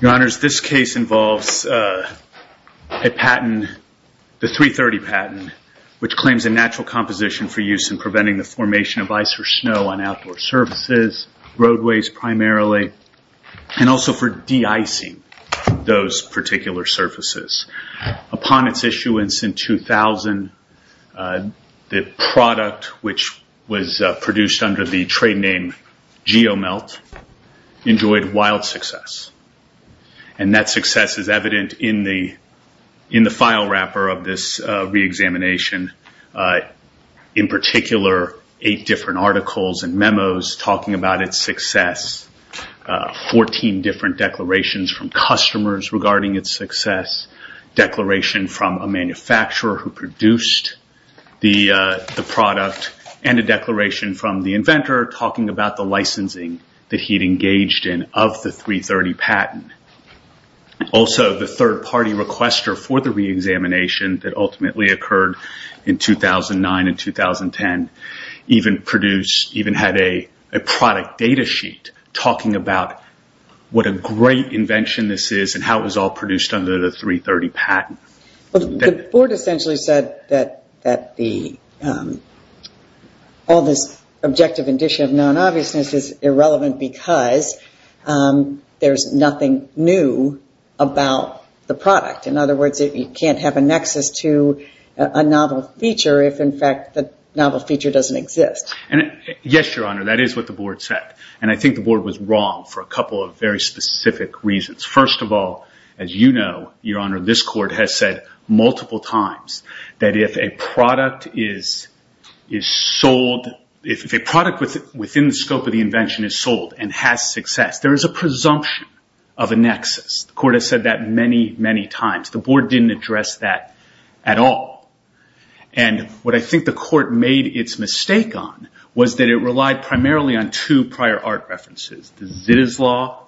Your Honors, this case involves a patent, the 330 patent, which claims a natural composition for use in preventing the formation of ice or snow on outdoor surfaces, roadways primarily, and also for de-icing those particular surfaces. Upon its issuance in 2000, the product which was produced under the trade name GeoMelt enjoyed wild success. That success is evident in the file wrapper of this re-examination. In particular, eight different articles and memos talking about its success, 14 different declarations from customers regarding its success, declaration from a manufacturer who he had engaged in of the 330 patent. Also, the third party requester for the re-examination that ultimately occurred in 2009 and 2010 even had a product data sheet talking about what a great invention this is and how it was all produced under the 330 patent. The board essentially said that all this objective addition of non-obviousness is irrelevant because there's nothing new about the product. In other words, you can't have a nexus to a novel feature if, in fact, the novel feature doesn't exist. Yes, Your Honor, that is what the board said. I think the board was wrong for a couple of very specific reasons. First of all, as you know, Your Honor, this court has said multiple times that if a product within the scope of the invention is sold and has success, there is a presumption of a nexus. The court has said that many, many times. The board didn't address that at all. What I think the court made its mistake on was that it relied primarily on two prior art references, the Zittes Law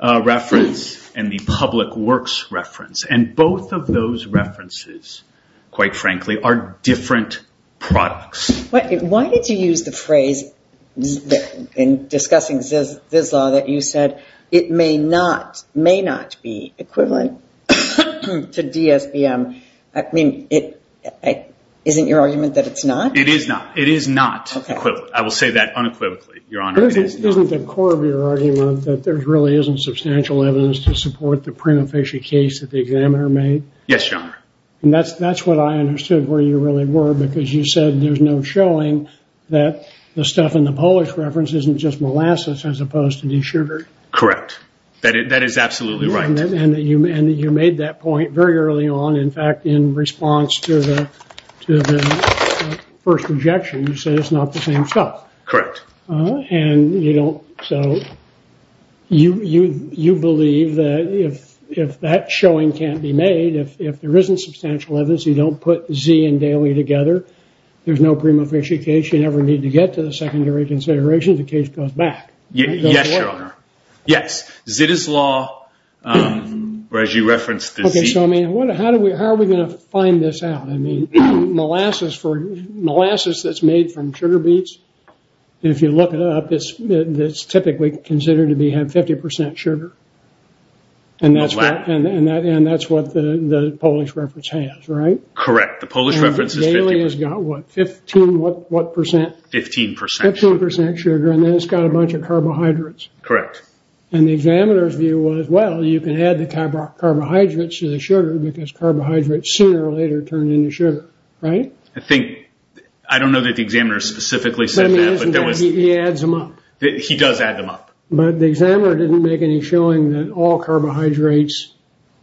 reference and the Public Works reference. Both of those references, quite frankly, are different products. Why did you use the phrase in discussing Zittes Law that you said it may not be equivalent to DSBM? I mean, isn't your argument that it's not? It is not. It is not equivalent. I will say that unequivocally, Your Honor. Isn't the core of your argument that there really isn't substantial evidence to support the prima facie case that the examiner made? Yes, Your Honor. That's what I understood where you really were, because you said there's no showing that the stuff in the Polish reference isn't just molasses as opposed to desugared. Correct. That is absolutely right. You made that point very early on. In fact, in response to the first rejection, you said it's not the same stuff. Correct. You believe that if that showing can't be made, if there isn't substantial evidence, you don't put Z and Daly together, there's no prima facie case. You never need to get to the secondary considerations. The case goes back. Yes, Your Honor. Yes. Zittes Law, whereas you referenced the Zittes Law. How are we going to find this out? Molasses for molasses that's made from sugar beets. If you look it up, it's typically considered to have 50% sugar. That's what the Polish reference has, right? Correct. The Polish reference is 50%. Daly has got what, 15% sugar, and then it's got a bunch of carbohydrates. Correct. The examiner's view was, well, you can add the carbohydrates to the sugar because carbohydrates sooner or later turn into sugar, right? I don't know that the examiner specifically said that. He adds them up. He does add them up. The examiner didn't make any showing that all carbohydrates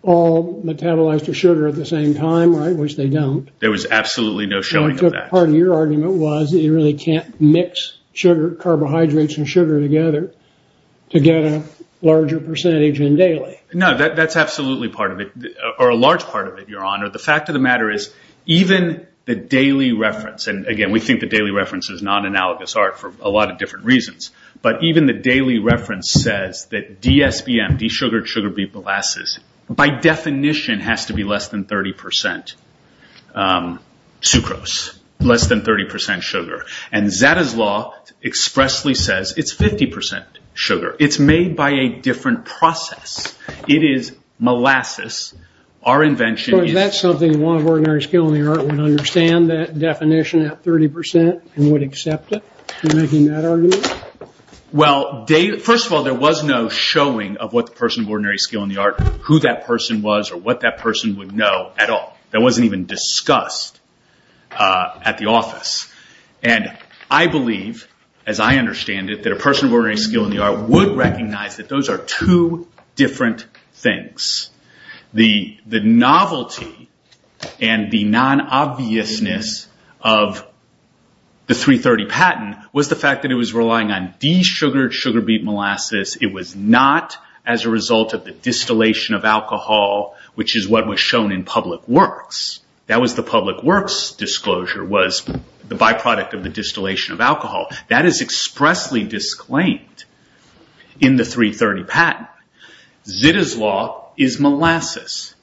all metabolize to sugar at the same time, which they don't. There was absolutely no showing of that. Part of your argument was that you really can't mix carbohydrates and sugar together to get a larger percentage in Daly. That's absolutely part of it, or a large part of it, Your Honor. The fact of the matter is even the Daly reference, and again, we think the Daly reference is non-analogous art for a lot of different reasons, but even the Daly reference says that DSBM, desugared sugar beet molasses, by definition has to be less than 30% sucrose, less than 30% sugar. Zadda's law expressly says it's 50% sugar. It's made by a different process. It is molasses. Our invention is- That's something Law of Ordinary Skill in the Art would understand that definition at 30% and would accept it, making that argument? Well, first of all, there was no showing of what the person of ordinary skill in the art, who that person was, or what that person would know at all. That wasn't even discussed at the office. I believe, as I understand it, that a person of ordinary skill in the art would recognize that those are two different things. The novelty and the non-obviousness of the 330 patent was the fact that it was relying on desugared sugar beet molasses. It was not as a result of the distillation of alcohol, which is what was shown in public works. That was the public works disclosure, was the byproduct of the distillation of alcohol. That is expressly disclaimed in the 330 patent. Zadda's law is molasses.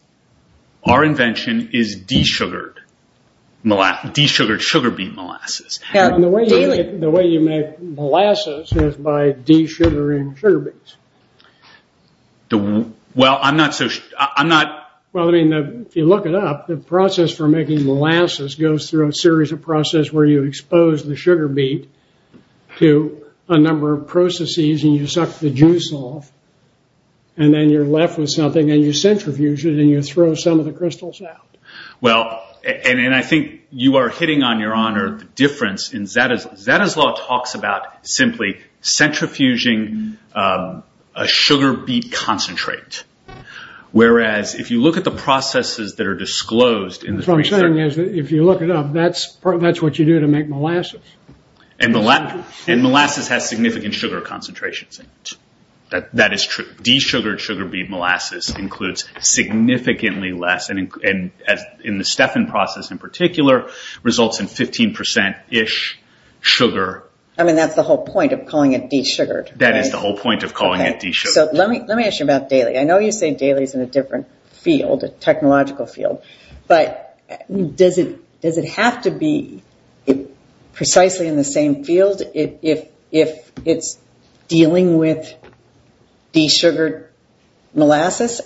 Our invention is desugared sugar beet molasses. The way you make molasses is by desugaring sugar beets. If you look it up, the process for making molasses goes through a series of process where you expose the sugar beet to a number of processes and you suck the juice off. Then you're left with something and you centrifuge it and you throw some of the crystals out. I think you are hitting on your honor the difference in Zadda's law. Zadda's law talks about simply centrifuging a sugar beet concentrate. Whereas, if you look at the processes that are disclosed in the 330... What I'm saying is that if you look it up, that's what you do to make molasses. Molasses has significant sugar concentrations in it. That is true. Desugared sugar beet molasses includes significantly less. In the Stefan process in particular, results in 15 percent-ish sugar. That's the whole point of calling it desugared. That is the whole point of calling it desugared. Let me ask you about Daly. I know you say Daly is in a different field, a technological field. Does it have to be precisely in the same field if it's dealing with desugared molasses?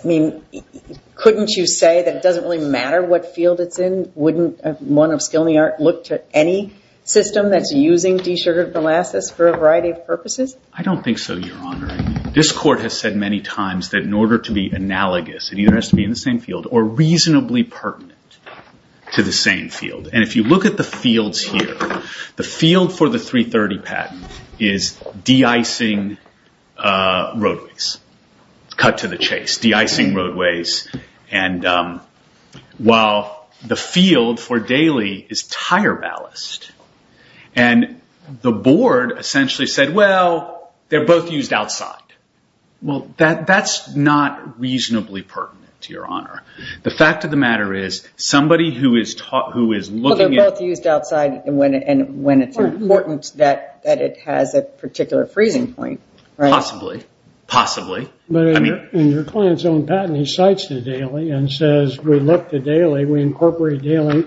Couldn't you say that it doesn't really matter what field it's in? Wouldn't one of skill in the art look to any system that's using desugared molasses for a variety of purposes? I don't think so, your honor. This court has said many times that in order to be analogous, it either has to be in the same field or reasonably pertinent to the same field. If you look at the fields here, the field for the 330 patent is de-icing roadways. Cut to the chase. De-icing for Daly is tire ballast. The board essentially said, well, they're both used outside. That's not reasonably pertinent to your honor. The fact of the matter is, somebody who is looking at... They're both used outside and when it's important that it has a particular freezing point, right? Possibly. Possibly. But in your client's own patent, he cites the Daly and says, we look to Daly, we incorporate Daly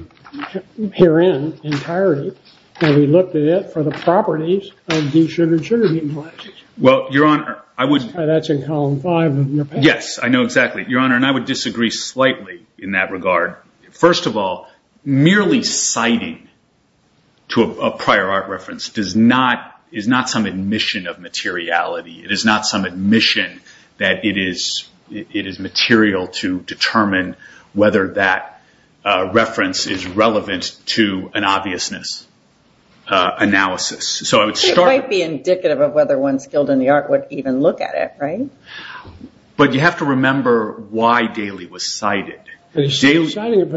herein entirely and we looked at it for the properties of desugared sugar beet molasses. Well, your honor, I would... That's in column five of your patent. Yes, I know exactly. Your honor, and I would disagree slightly in that regard. First of all, merely citing to a prior art reference is not some admission of materiality. It is not some admission that it is material to determine whether that reference is relevant to an obviousness analysis. It might be indicative of whether one skilled in the art would even look at it, right? But you have to remember why Daly was cited. He's citing it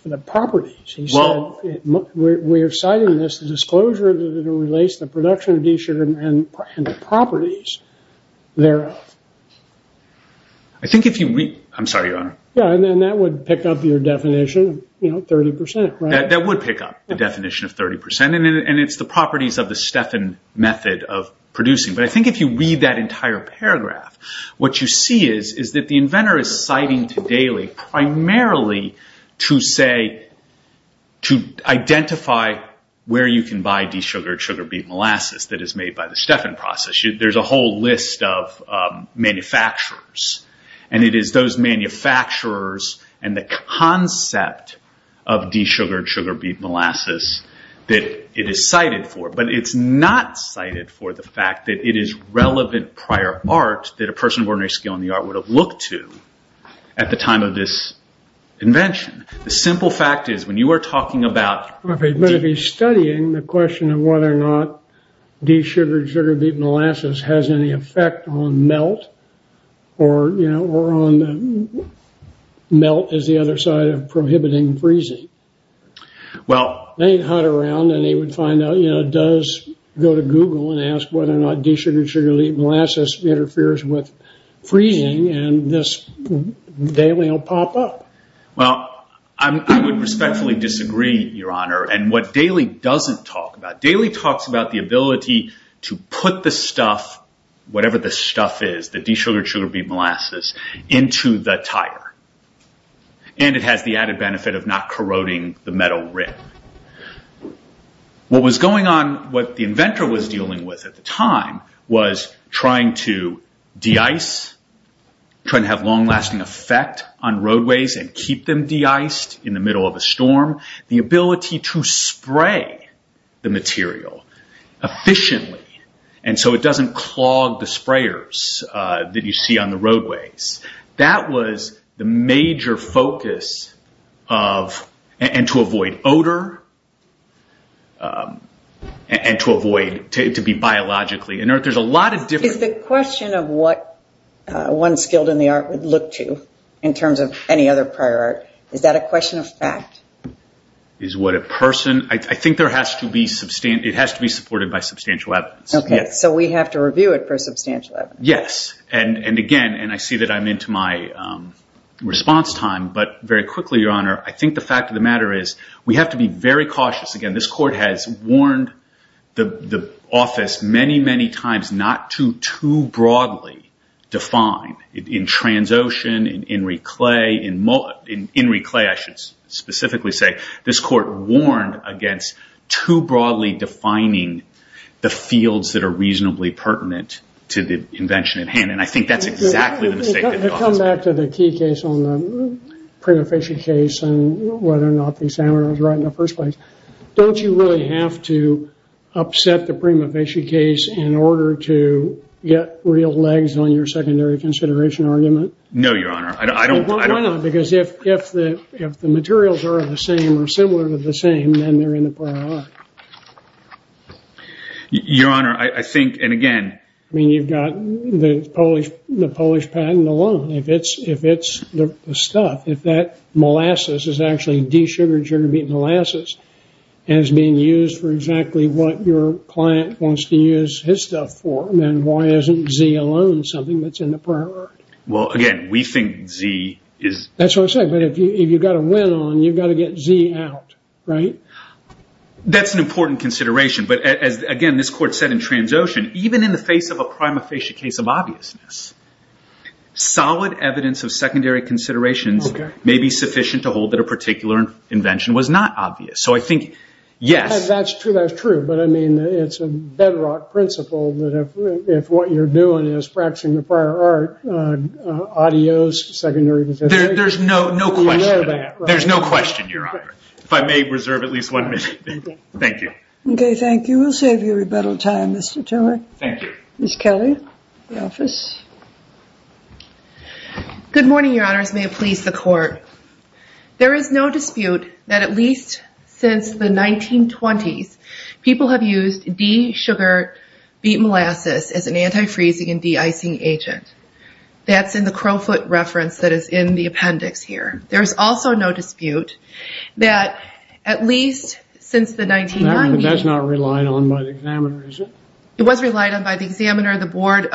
for the properties. He said, we're citing this disclosure that relates the production of desugared and the properties thereof. I think if you read... I'm sorry, your honor. Yeah, and then that would pick up your definition 30%, right? That would pick up the definition of 30% and it's the properties of the Stefan method of producing. But I think if you read that entire paragraph, what you see is that the inventor is citing to Daly primarily to say, to identify where you can buy desugared sugar beet molasses. That is made by the Stefan process. There's a whole list of manufacturers and it is those manufacturers and the concept of desugared sugar beet molasses that it is cited for. But it's not cited for the fact that it is relevant prior art that a person of ordinary skill in the art would have looked to at the time of this invention. The simple fact is when you are talking about... But if he's studying the question of whether or not desugared sugar beet molasses has any effect on melt or on melt as the other side of prohibiting freezing. They'd hunt around and they would find out, does go to Google and ask whether or not desugared sugar beet molasses interferes with freezing and this Daly will pop up. I would respectfully disagree, your honor. What Daly doesn't talk about, Daly talks about the ability to put the stuff, whatever the stuff is, the desugared sugar beet molasses into the tire. It has the added benefit of not corroding the metal rim. What was going on, what the inventor was dealing with at the time was trying to de-ice, trying to have long lasting effect on roadways and keep them de-iced in the middle of a storm. The ability to spray the material efficiently and so it doesn't clog the sprayers that you see on the roadways. That was the major focus of and to avoid odor and to avoid, to be biologically inert. There's a lot of different... Prior art would look to in terms of any other prior art. Is that a question of fact? Is what a person... I think it has to be supported by substantial evidence. We have to review it for substantial evidence. Yes. Again, and I see that I'm into my response time, but very quickly, your honor, I think the fact of the matter is we have to be very cautious. Again, this court has warned the office many, many times not to too broadly define. In Transocean, in Enricle, in Enricle I should specifically say, this court warned against too broadly defining the fields that are reasonably pertinent to the invention at hand. I think that's exactly the mistake that the office made. To come back to the key case on the prima facie case and whether or not the examiner was right in the first place, don't you really have to upset the prima facie case in order to get real legs on your secondary consideration argument? No, your honor. I don't... Why not? Because if the materials are the same or similar to the same, then they're in the prior art. Your honor, I think, and again... I mean, you've got the Polish patent alone. If it's the stuff, if that molasses is actually de-sugared sugar beet molasses as being used for exactly what your client wants to use his stuff for, then why isn't Z alone something that's in the prior art? Well, again, we think Z is... That's what I'm saying. If you've got a win on, you've got to get Z out, right? That's an important consideration. Again, this court said in Transocean, even in the face of a prima facie case of obviousness, solid evidence of secondary considerations may be sufficient to hold that a particular invention was not obvious. I think, yes... That's true. That's true. But I mean, it's a bedrock principle that if what you're doing is practicing the prior art, audios, secondary consideration... There's no question to that. There's no question, your honor. If I may reserve at least one minute. Thank you. Okay, thank you. We'll save you rebuttal time, Mr. Tiller. Thank you. Ms. Kelly, the office. Good morning, your honors. May it please the court. In the 1920s, people have used D-sugar beet molasses as an anti-freezing and D-icing agent. That's in the Crowfoot reference that is in the appendix here. There is also no dispute that at least since the 1990s... That's not relied on by the examiner, is it? It was relied on by the examiner, the board.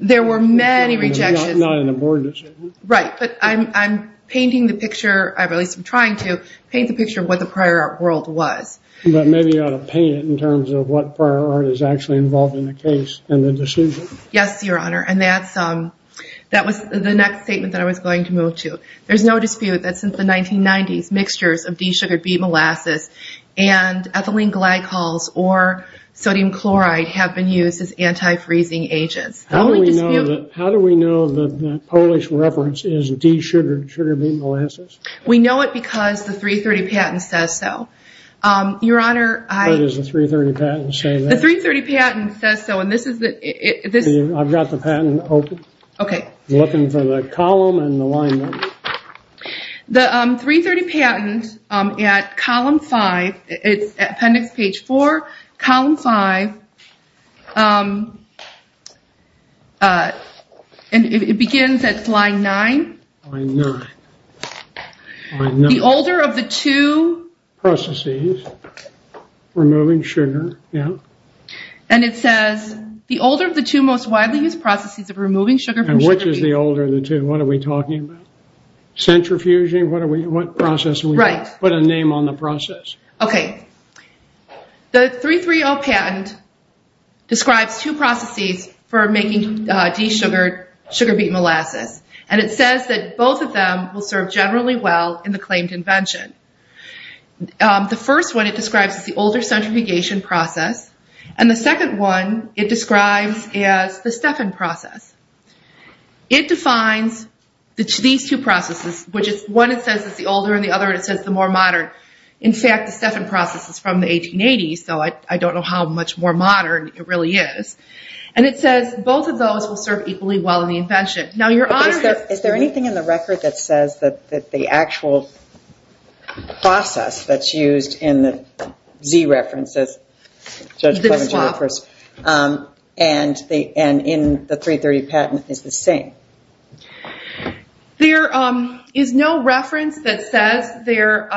There were many rejections. Not in the board, is it? Right, but I'm painting the picture, at least I'm trying to, paint the picture of what the prior art world was. But maybe you ought to paint it in terms of what prior art is actually involved in the case and the decision. Yes, your honor. And that was the next statement that I was going to move to. There's no dispute that since the 1990s, mixtures of D-sugar beet molasses and ethylene glycols or sodium chloride have been used as anti-freezing agents. How do we know that the Polish reference is D-sugar beet molasses? We know it because the 330 patent says so. Your honor, I... What does the 330 patent say there? The 330 patent says so and this is the... I've got the patent open. Okay. I'm looking for the column and the line number. The 330 patent at column 5, it's appendix page 4, column 5, it begins at line 9. Line 9. The older of the two... Processes. Removing sugar. Yeah. And it says, the older of the two most widely used processes of removing sugar from sugar beet... And which is the older of the two? What are we talking about? Centrifuging? What process are we... Right. Put a name on the process. Okay. The 330 patent describes two processes for making D-sugar beet molasses and it says that both of them will serve generally well in the claimed invention. The first one it describes is the older centrifugation process and the second one it describes is the Stefan process. It defines these two processes, which is one it says is the older and the other it says the more modern. In fact, the Stefan process is from the 1880s, so I don't know how much more modern it really is. And it says both of those will serve equally well in the invention. Is there anything in the record that says that the actual process that's used in the Z-reference, as Judge Clemens refers, and in the 330 patent is the same? There is no reference that says they're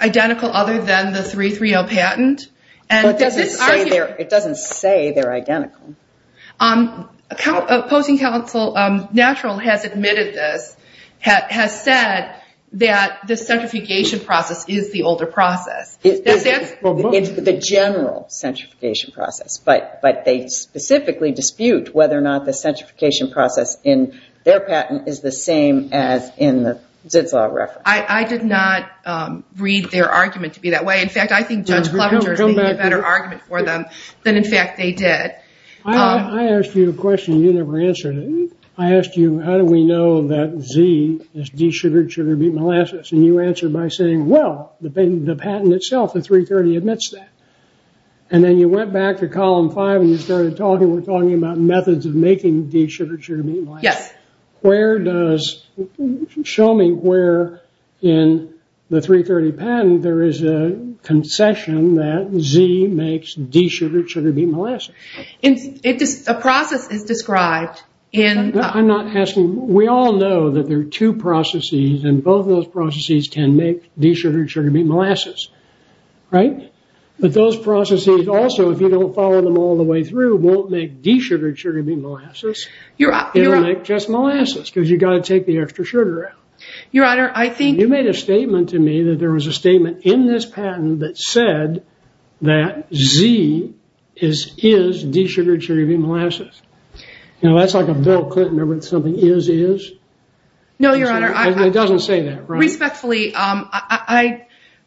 identical other than the 330 patent. It doesn't say they're identical. Opposing counsel Natural has admitted this, has said that the centrifugation process is the older process. It's the general centrifugation process, but they specifically dispute whether or not the centrifugation process in their patent is the same as in the Zitzelau reference. I did not read their argument to be that way. In fact, I think Judge Clemens made a better argument for them than, in fact, they did. I asked you a question you never answered. I asked you, how do we know that Z is de-sugared sugar beet molasses? And you answered by saying, well, the patent itself, the 330 admits that. And then you went back to column five and you started talking. We're talking about methods of making de-sugared sugar beet molasses. Show me where in the 330 patent there is a concession that Z makes de-sugared sugar beet molasses. A process is described. I'm not asking. We all know that there are two processes and both of those processes can make de-sugared sugar beet molasses. Right? But those processes also, if you don't follow them all the way through, won't make de-sugared sugar beet molasses. It'll make just molasses because you've got to take the extra sugar out. Your Honor, I think. You made a statement to me that there was a statement in this patent that said that Z is de-sugared sugar beet molasses. You know, that's like a Bill Clinton or something, is, is. No, Your Honor. It doesn't say that, right?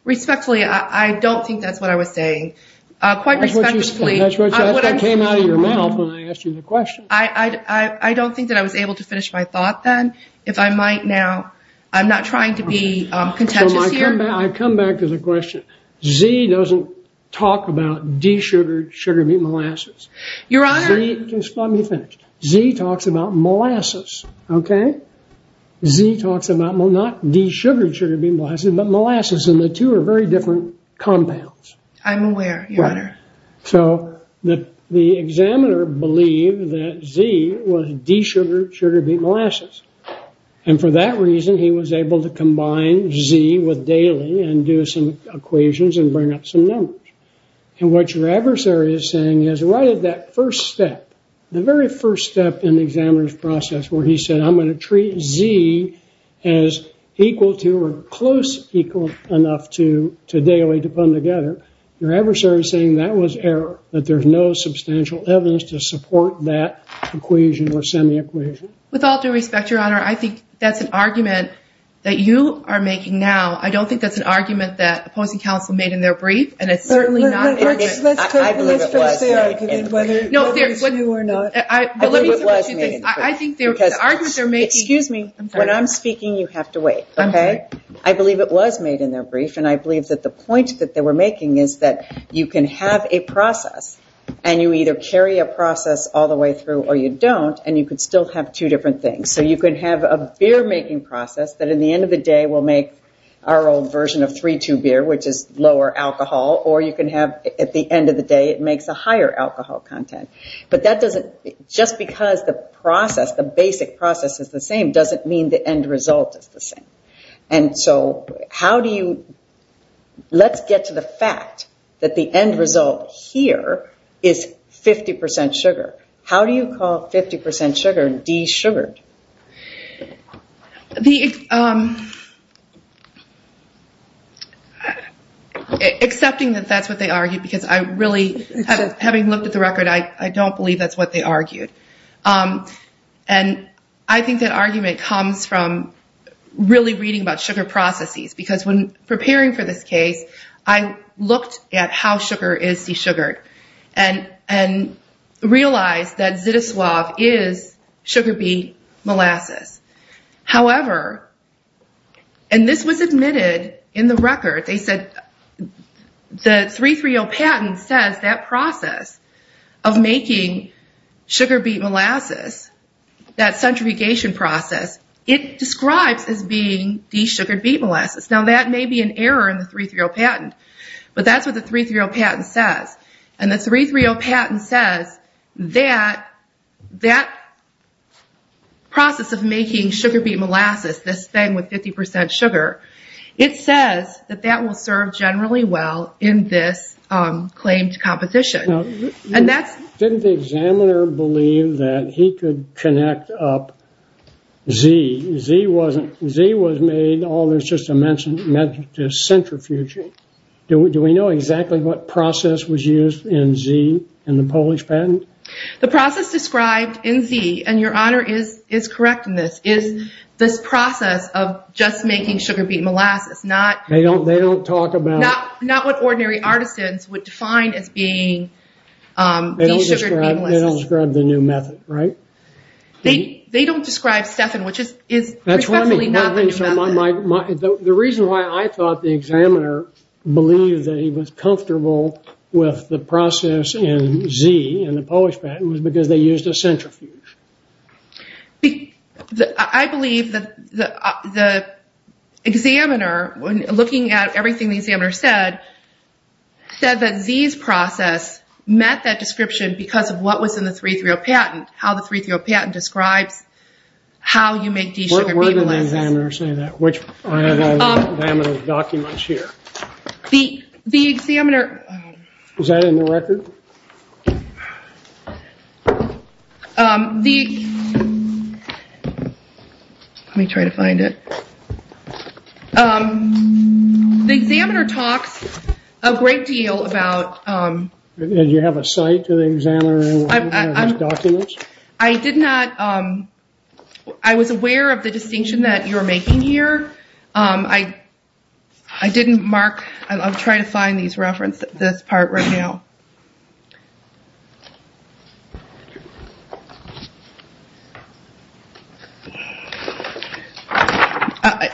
Respectfully, I don't think that's what I was saying. Quite respectfully. That's what you said. That's what came out of your mouth when I asked you the question. I don't think that I was able to finish my thought then. If I might now, I'm not trying to be contentious here. I come back to the question. Z doesn't talk about de-sugared sugar beet molasses. Your Honor. Let me finish. Z talks about molasses. Okay? Z talks about not de-sugared sugar beet molasses, but molasses, and the two are very different compounds. I'm aware, Your Honor. So, the examiner believed that Z was de-sugared sugar beet molasses. And for that reason, he was able to combine Z with Daly and do some equations and bring up some numbers. And what your adversary is saying is right at that first step, the very first step in the examiner's process where he said, I'm going to treat Z as equal to or close equal enough to Daly to put them together. Your adversary is saying that was error, that there's no substantial evidence to support that equation or semi-equation. With all due respect, Your Honor, I think that's an argument that you are making now. I don't think that's an argument that opposing counsel made in their brief, and it's certainly not an argument. I believe it was made in the brief. I believe it was made in the brief. I think the argument they're making – Excuse me. Okay? I'm sorry. I believe it was made in their brief, and I believe that the point that they were making is that you can have a process, and you either carry a process all the way through or you don't, and you could still have two different things. So you could have a beer-making process that, at the end of the day, will make our old version of 3-2 beer, which is lower alcohol, or you can have, at the end of the day, it makes a higher alcohol content. But that doesn't – just because the process, the basic process is the same, doesn't mean the end result is the same. And so how do you – let's get to the fact that the end result here is 50% sugar. How do you call 50% sugar de-sugared? Accepting that that's what they argued, because I really – having looked at the record, I don't believe that's what they argued. And I think that argument comes from really reading about sugar processes, because when preparing for this case, I looked at how sugar is de-sugared and realized that Zytoslav is sugar beet molasses. However – and this was admitted in the record. They said the 3-3-0 patent says that process of making sugar beet molasses, that centrifugation process, it describes as being de-sugared beet molasses. Now, that may be an error in the 3-3-0 patent, but that's what the 3-3-0 patent says. And the 3-3-0 patent says that that process of making sugar beet molasses, this thing with 50% sugar, it says that that will serve generally well in this claim to competition. And that's – Didn't the examiner believe that he could connect up Z? Z was made – oh, there's just a mention of centrifuging. Do we know exactly what process was used in Z in the Polish patent? The process described in Z, and your honor is correct in this, is this process of just making sugar beet molasses, not – They don't talk about – Not what ordinary artisans would define as being de-sugared beet molasses. They don't describe the new method, right? They don't describe Stefan, which is respectfully not the new method. The reason why I thought the examiner believed that he was comfortable with the process in Z in the Polish patent was because they used a centrifuge. I believe that the examiner, looking at everything the examiner said, said that Z's process met that description because of what was in the 3-3-0 patent, how the 3-3-0 patent describes how you make de-sugared beet molasses. How did the examiner say that? Which examiner's documents here? The examiner – Is that in the record? Let me try to find it. The examiner talks a great deal about – Did you have a cite to the examiner in one of his documents? I did not – I was aware of the distinction that you're making here. I didn't mark – I'll try to find this part right now.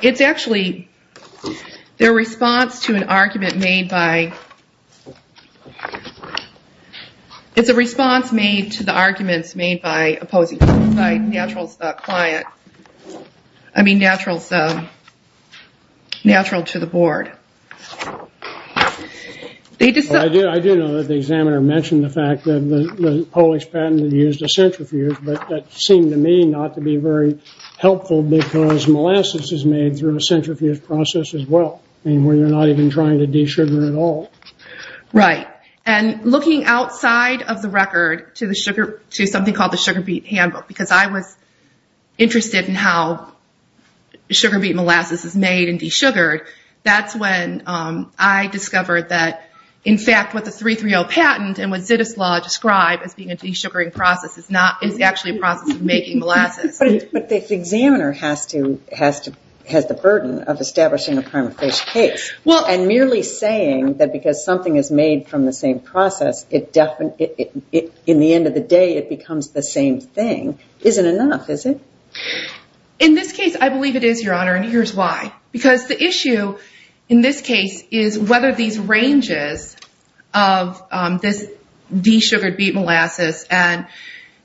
It's actually their response to an argument made by – It's a response made to the arguments made by opposing – by Natural's client. I mean, Natural's – Natural to the board. I do know that the examiner mentioned the fact that the Polish patent used a centrifuge, but that seemed to me not to be very helpful because molasses is made through a centrifuge process as well, where you're not even trying to de-sugar at all. Right. And looking outside of the record to something called the sugar beet handbook, because I was interested in how sugar beet molasses is made and de-sugared, that's when I discovered that, in fact, what the 330 patent and what Zittus Law describe as being a de-sugaring process is actually a process of making molasses. But the examiner has the burden of establishing a prima facie case and merely saying that because something is made from the same process, in the end of the day it becomes the same thing isn't enough, is it? In this case, I believe it is, Your Honor, and here's why. Because the issue in this case is whether these ranges of this de-sugared beet molasses and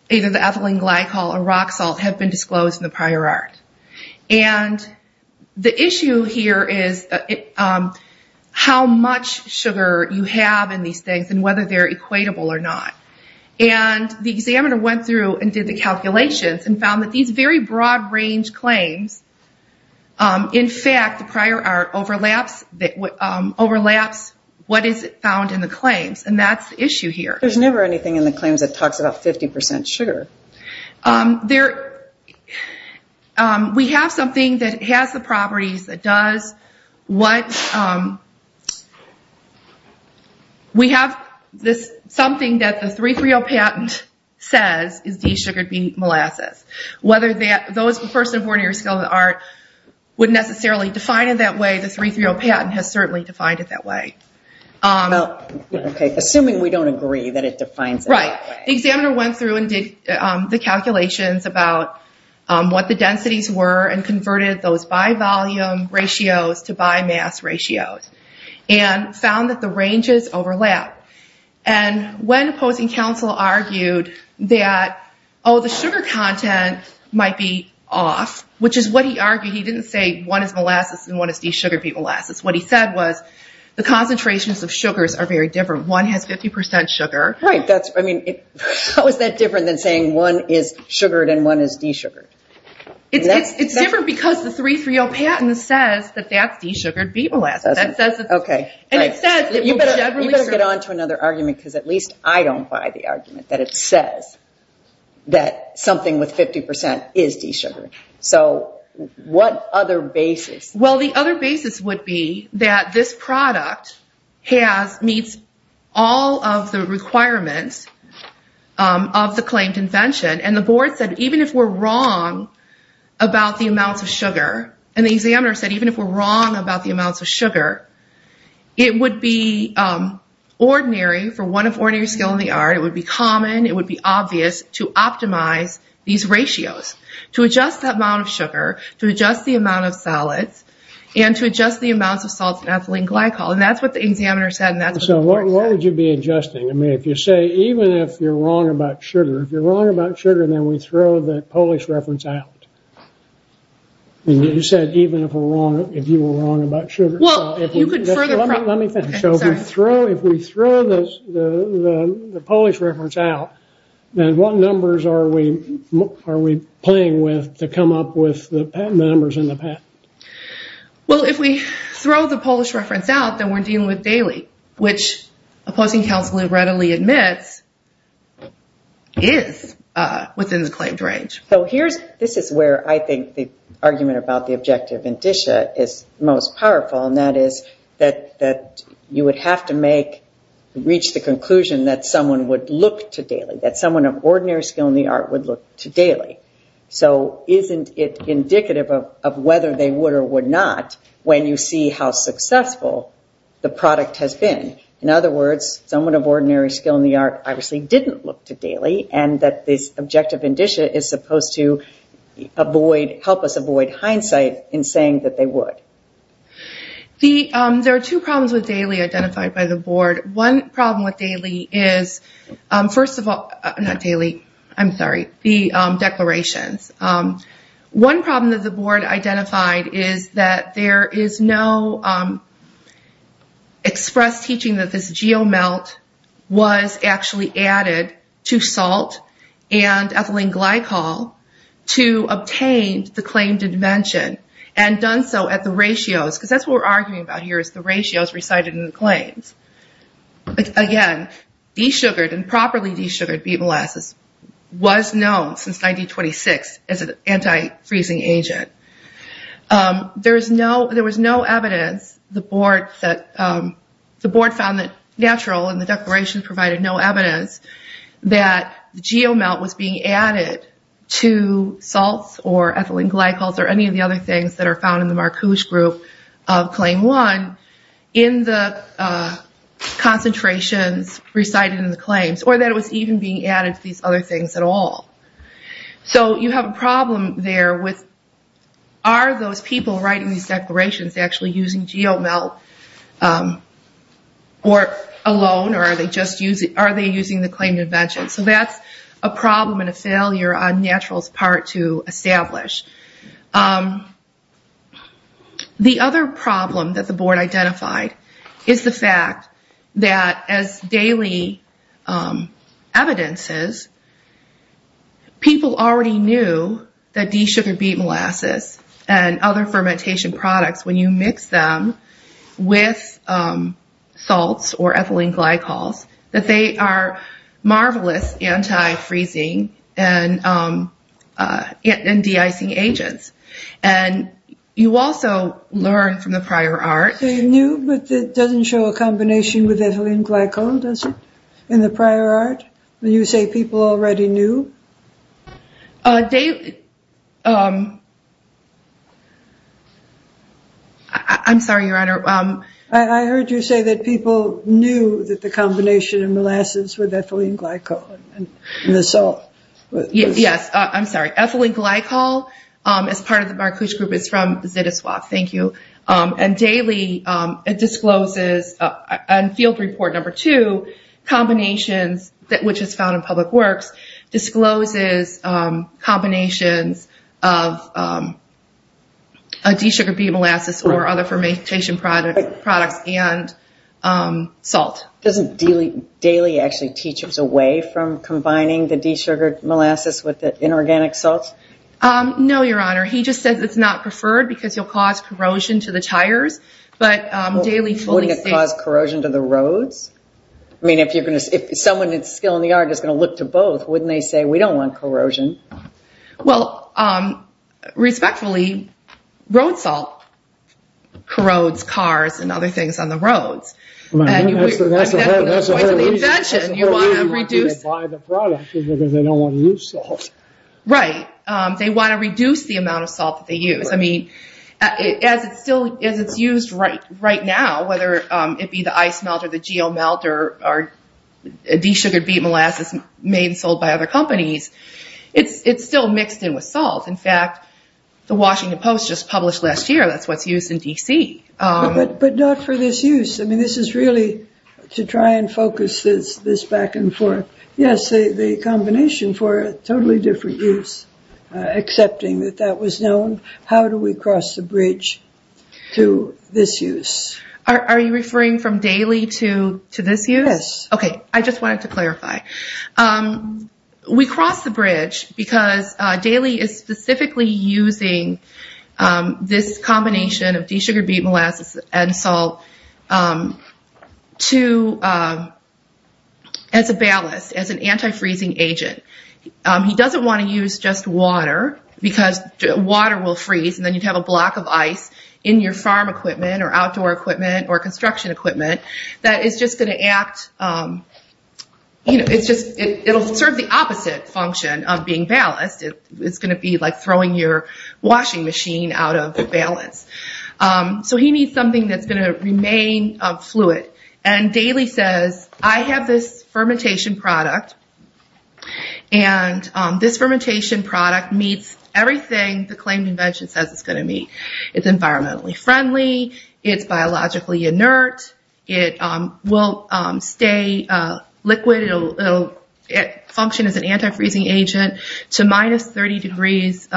either the ethylene glycol or rock salt have been disclosed in the prior art. And the issue here is how much sugar you have in these things and whether they're equatable or not. And the examiner went through and did the calculations and found that these very broad-range claims, in fact, the prior art overlaps what is found in the claims, and that's the issue here. There's never anything in the claims that talks about 50% sugar. We have something that has the properties that does. We have something that the 330 patent says is de-sugared beet molasses. Whether those first and foremost areas of the art would necessarily define it that way, the 330 patent has certainly defined it that way. Assuming we don't agree that it defines it that way. The examiner went through and did the calculations about what the densities were and converted those by volume ratios to by mass ratios and found that the ranges overlap. And when opposing counsel argued that, oh, the sugar content might be off, which is what he argued. He didn't say one is molasses and one is de-sugared beet molasses. What he said was the concentrations of sugars are very different. One has 50% sugar. Right. How is that different than saying one is sugared and one is de-sugared? It's different because the 330 patent says that that's de-sugared beet molasses. You better get on to another argument because at least I don't buy the argument that it says that something with 50% is de-sugared. So what other basis? Well, the other basis would be that this product meets all of the requirements of the claimed invention. And the board said even if we're wrong about the amounts of sugar, and the examiner said even if we're wrong about the amounts of sugar, it would be ordinary for one of ordinary skill in the art, it would be common, it would be obvious to optimize these ratios. To adjust the amount of sugar, to adjust the amount of solids, and to adjust the amounts of salts and ethylene glycol. And that's what the examiner said and that's what the board said. So what would you be adjusting? I mean, if you say even if you're wrong about sugar, if you're wrong about sugar then we throw the Polish reference out. You said even if you were wrong about sugar. Well, you could further. Let me finish. If we throw the Polish reference out, then what numbers are we playing with to come up with the numbers in the patent? Well, if we throw the Polish reference out, then we're dealing with daily, which opposing counsel readily admits is within the claimed range. This is where I think the argument about the objective indicia is most powerful, and that is that you would have to reach the conclusion that someone would look to daily, that someone of ordinary skill in the art would look to daily. So isn't it indicative of whether they would or would not when you see how successful the product has been? In other words, someone of ordinary skill in the art obviously didn't look to daily and that this objective indicia is supposed to help us avoid hindsight in saying that they would. There are two problems with daily identified by the board. One problem with daily is, first of all, not daily, I'm sorry, the declarations. One problem that the board identified is that there is no express teaching that this geomelt was actually added to salt and ethylene glycol to obtain the claimed invention, and done so at the ratios, because that's what we're arguing about here is the ratios recited in the claims. Again, desugared and properly desugared beet molasses was known since 1926 as an anti-freezing agent. There was no evidence, the board found that natural in the declaration provided no evidence that geomelt was being added to salts or ethylene glycols or any of the other things that are found in the Marcuse group of claim one in the concentrations recited in the claims, or that it was even being added to these other things at all. So you have a problem there with are those people writing these declarations actually using geomelt alone, or are they using the claimed invention? So that's a problem and a failure on natural's part to establish. The other problem that the board identified is the fact that as daily evidences, people already knew that desugared beet molasses and other fermentation products, when you mix them with salts or ethylene glycols, that they are marvelous anti-freezing and de-icing agents. And you also learn from the prior art. They knew, but it doesn't show a combination with ethylene glycol, does it, in the prior art? When you say people already knew? I'm sorry, Your Honor. I heard you say that people knew that the combination of molasses with ethylene glycol and the salt. Yes, I'm sorry. Ethylene glycol, as part of the Marcuse group, is from Zitiswap. Thank you. And daily it discloses, in field report number two, combinations, which is found in public works, discloses combinations of desugared beet molasses or other fermentation products and salt. Doesn't daily actually teach us away from combining the desugared molasses with the inorganic salts? No, Your Honor. He just says it's not preferred because you'll cause corrosion to the tires. But daily fully safe. Wouldn't it cause corrosion to the roads? I mean, if someone that's still in the yard is going to look to both, wouldn't they say, we don't want corrosion? Well, respectfully, road salt corrodes cars and other things on the roads. That's the whole reason people buy the product is because they don't want to use salt. Right. They want to reduce the amount of salt that they use. I mean, as it's used right now, whether it be the ice melter, the geomelter, or desugared beet molasses made and sold by other companies, it's still mixed in with salt. In fact, the Washington Post just published last year that's what's used in D.C. But not for this use. I mean, this is really to try and focus this back and forth. Yes. The combination for a totally different use, accepting that that was known. How do we cross the bridge to this use? Are you referring from daily to this use? Okay. I just wanted to clarify. We cross the bridge because Daily is specifically using this combination of desugared beet molasses and salt as a ballast, as an anti-freezing agent. He doesn't want to use just water because water will freeze, and then you'd have a block of ice in your farm equipment or outdoor equipment or construction equipment that is just going to act, it'll serve the opposite function of being ballast. It's going to be like throwing your washing machine out of balance. So he needs something that's going to remain fluid. And Daily says, I have this fermentation product, and this fermentation product meets everything the claimed invention says it's going to meet. It's environmentally friendly. It's biologically inert. It will stay liquid. It'll function as an anti-freezing agent to minus 30 degrees.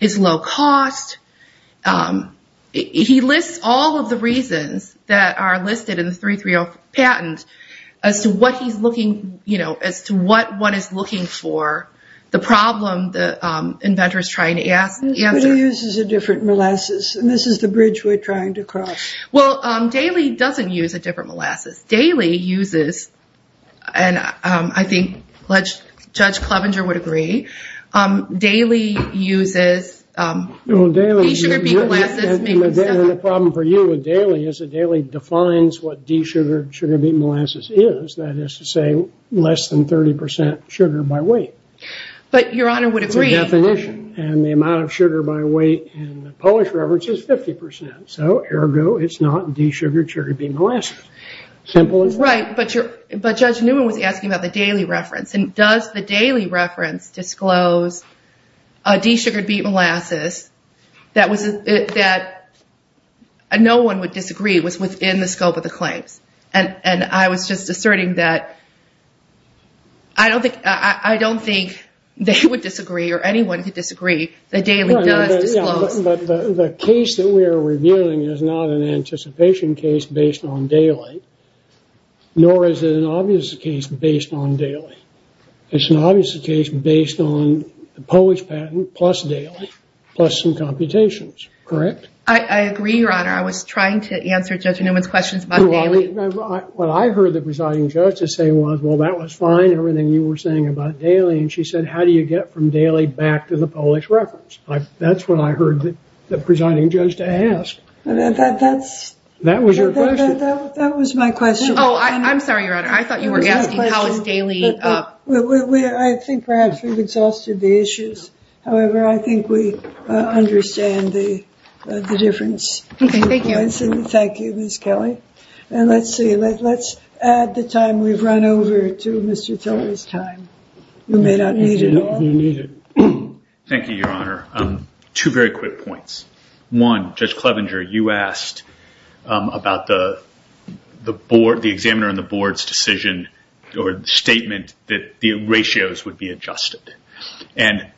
It's low cost. He lists all of the reasons that are listed in the 330 patent as to what he's looking, as to what one is looking for, the problem the inventor is trying to answer. But he uses a different molasses, and this is the bridge we're trying to cross. Well, Daily doesn't use a different molasses. Daily uses, and I think Judge Clevenger would agree, Daily uses desugared beet molasses. The problem for you with Daily is that Daily defines what desugared beet molasses is. That is to say, less than 30% sugar by weight. But Your Honor would agree. It's a definition. And the amount of sugar by weight in the Polish reference is 50%. So, ergo, it's not desugared beet molasses. Simple as that. Right. But Judge Newman was asking about the Daily reference. And does the Daily reference disclose desugared beet molasses that no one would disagree was within the scope of the claims? And I was just asserting that I don't think they would disagree or anyone could disagree that Daily does disclose. But the case that we are reviewing is not an anticipation case based on Daily, nor is it an obvious case based on Daily. It's an obvious case based on the Polish patent plus Daily, plus some computations. Correct? I agree, Your Honor. I was trying to answer Judge Newman's questions about Daily. What I heard the presiding judge say was, well, that was fine, everything you were saying about Daily. And she said, how do you get from Daily back to the Polish reference? That's what I heard the presiding judge ask. That was your question? That was my question. Oh, I'm sorry, Your Honor. I thought you were asking how is Daily. I think perhaps we've exhausted the issues. However, I think we understand the difference. Okay, thank you. Thank you, Ms. Kelly. And let's see. Let's add the time we've run over to Mr. Tillery's time. You may not need it all. Thank you, Your Honor. Two very quick points. One, Judge Clevenger, you asked about the examiner and the board's decision or statement that the ratios would be adjusted. And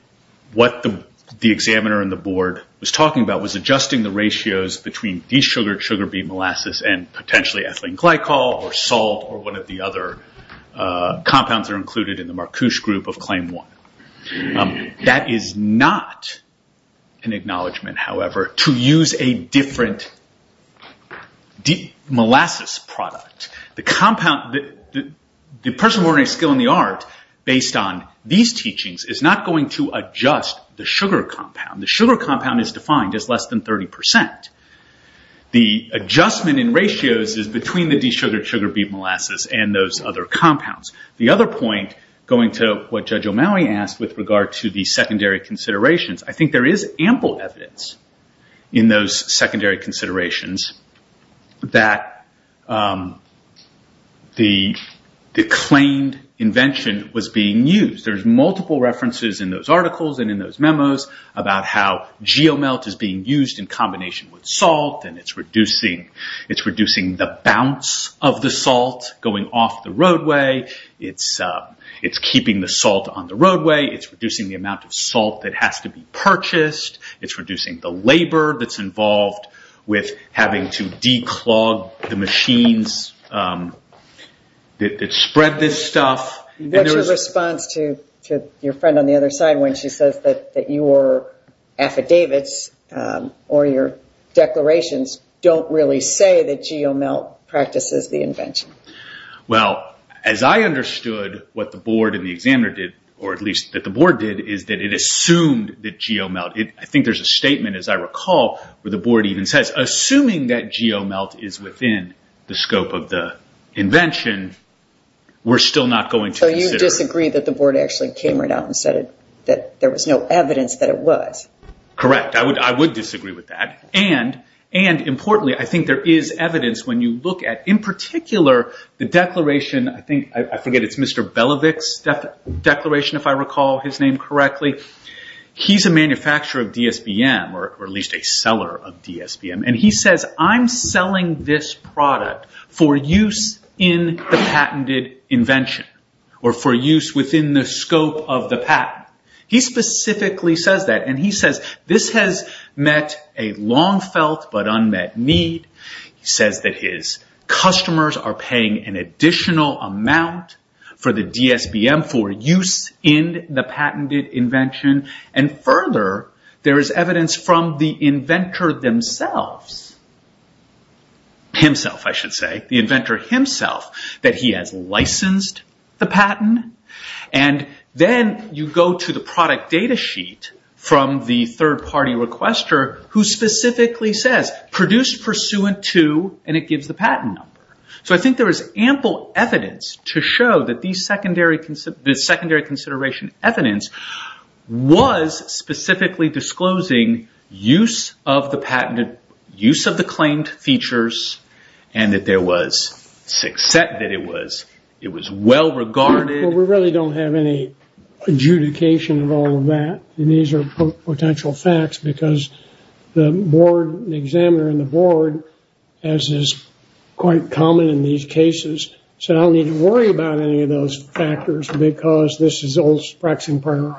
what the examiner and the board was talking about was adjusting the ratios between desugared sugar beet molasses and potentially ethylene glycol or salt or one of the other compounds that are included in the Marcouche group of Claim 1. That is not an acknowledgement, however, to use a different molasses product. The person of ordinary skill and the art, based on these teachings, is not going to adjust the sugar compound. The sugar compound is defined as less than 30%. The adjustment in ratios is between the desugared sugar beet molasses and those other compounds. The other point, going to what Judge O'Malley asked with regard to the secondary considerations, I think there is ample evidence in those secondary considerations that the claimed invention was being used. There's multiple references in those articles and in those memos about how geomelt is being used in combination with salt. It's reducing the bounce of the salt going off the roadway. It's keeping the salt on the roadway. It's reducing the amount of salt that has to be purchased. It's reducing the labor that's involved with having to declog the machines that spread this stuff. What's your response to your friend on the other side when she says that your affidavits or your declarations don't really say that geomelt practices the invention? As I understood what the board and the examiner did, or at least that the board did, is that it assumed that geomelt... I think there's a statement, as I recall, where the board even says, assuming that geomelt is within the scope of the invention, we're still not going to consider... You disagree that the board actually came right out and said that there was no evidence that it was. Correct. I would disagree with that. Importantly, I think there is evidence when you look at, in particular, the declaration... I forget, it's Mr. Belovick's declaration, if I recall his name correctly. He's a manufacturer of DSBM, or at least a seller of DSBM. He says, I'm selling this product for use in the patented invention, or for use within the scope of the patent. He specifically says that, and he says, this has met a long felt but unmet need. He says that his customers are paying an additional amount for the DSBM for use in the patented invention. Further, there is evidence from the inventor themselves, himself, I should say, the inventor himself, that he has licensed the patent. Then, you go to the product data sheet from the third party requester, who specifically says, produced pursuant to, and it gives the patent number. I think there is ample evidence to show that the secondary consideration evidence was specifically disclosing use of the patented, use of the claimed features, and that there was success, that it was well regarded. We really don't have any adjudication of all of that. These are potential facts, because the board, the examiner in the board, as is quite common in these cases, said I don't need to worry about any of those factors, because this is old sprax and prayer.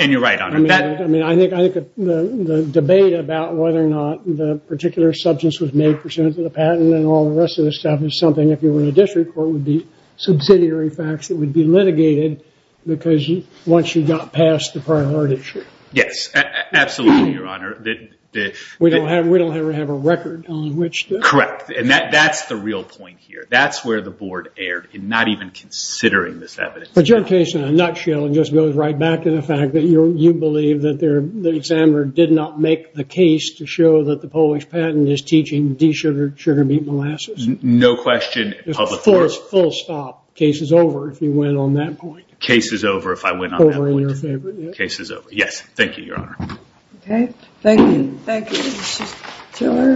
You're right, Honor. I think the debate about whether or not the particular substance was made pursuant to the patent and all the rest of the stuff is something, if you were in a district court, would be subsidiary facts that would be litigated, because once you got past the priority issue. Yes, absolutely, Your Honor. We don't ever have a record on which to. Correct, and that's the real point here. That's where the board erred in not even considering this evidence. But your case, in a nutshell, just goes right back to the fact that you believe that the examiner did not make the case to show that the Polish patent is teaching de-sugared sugar beet molasses. No question. Full stop. Case is over if you went on that point. Case is over if I went on that point. Over in your favor. Case is over. Yes, thank you, Your Honor. Okay, thank you.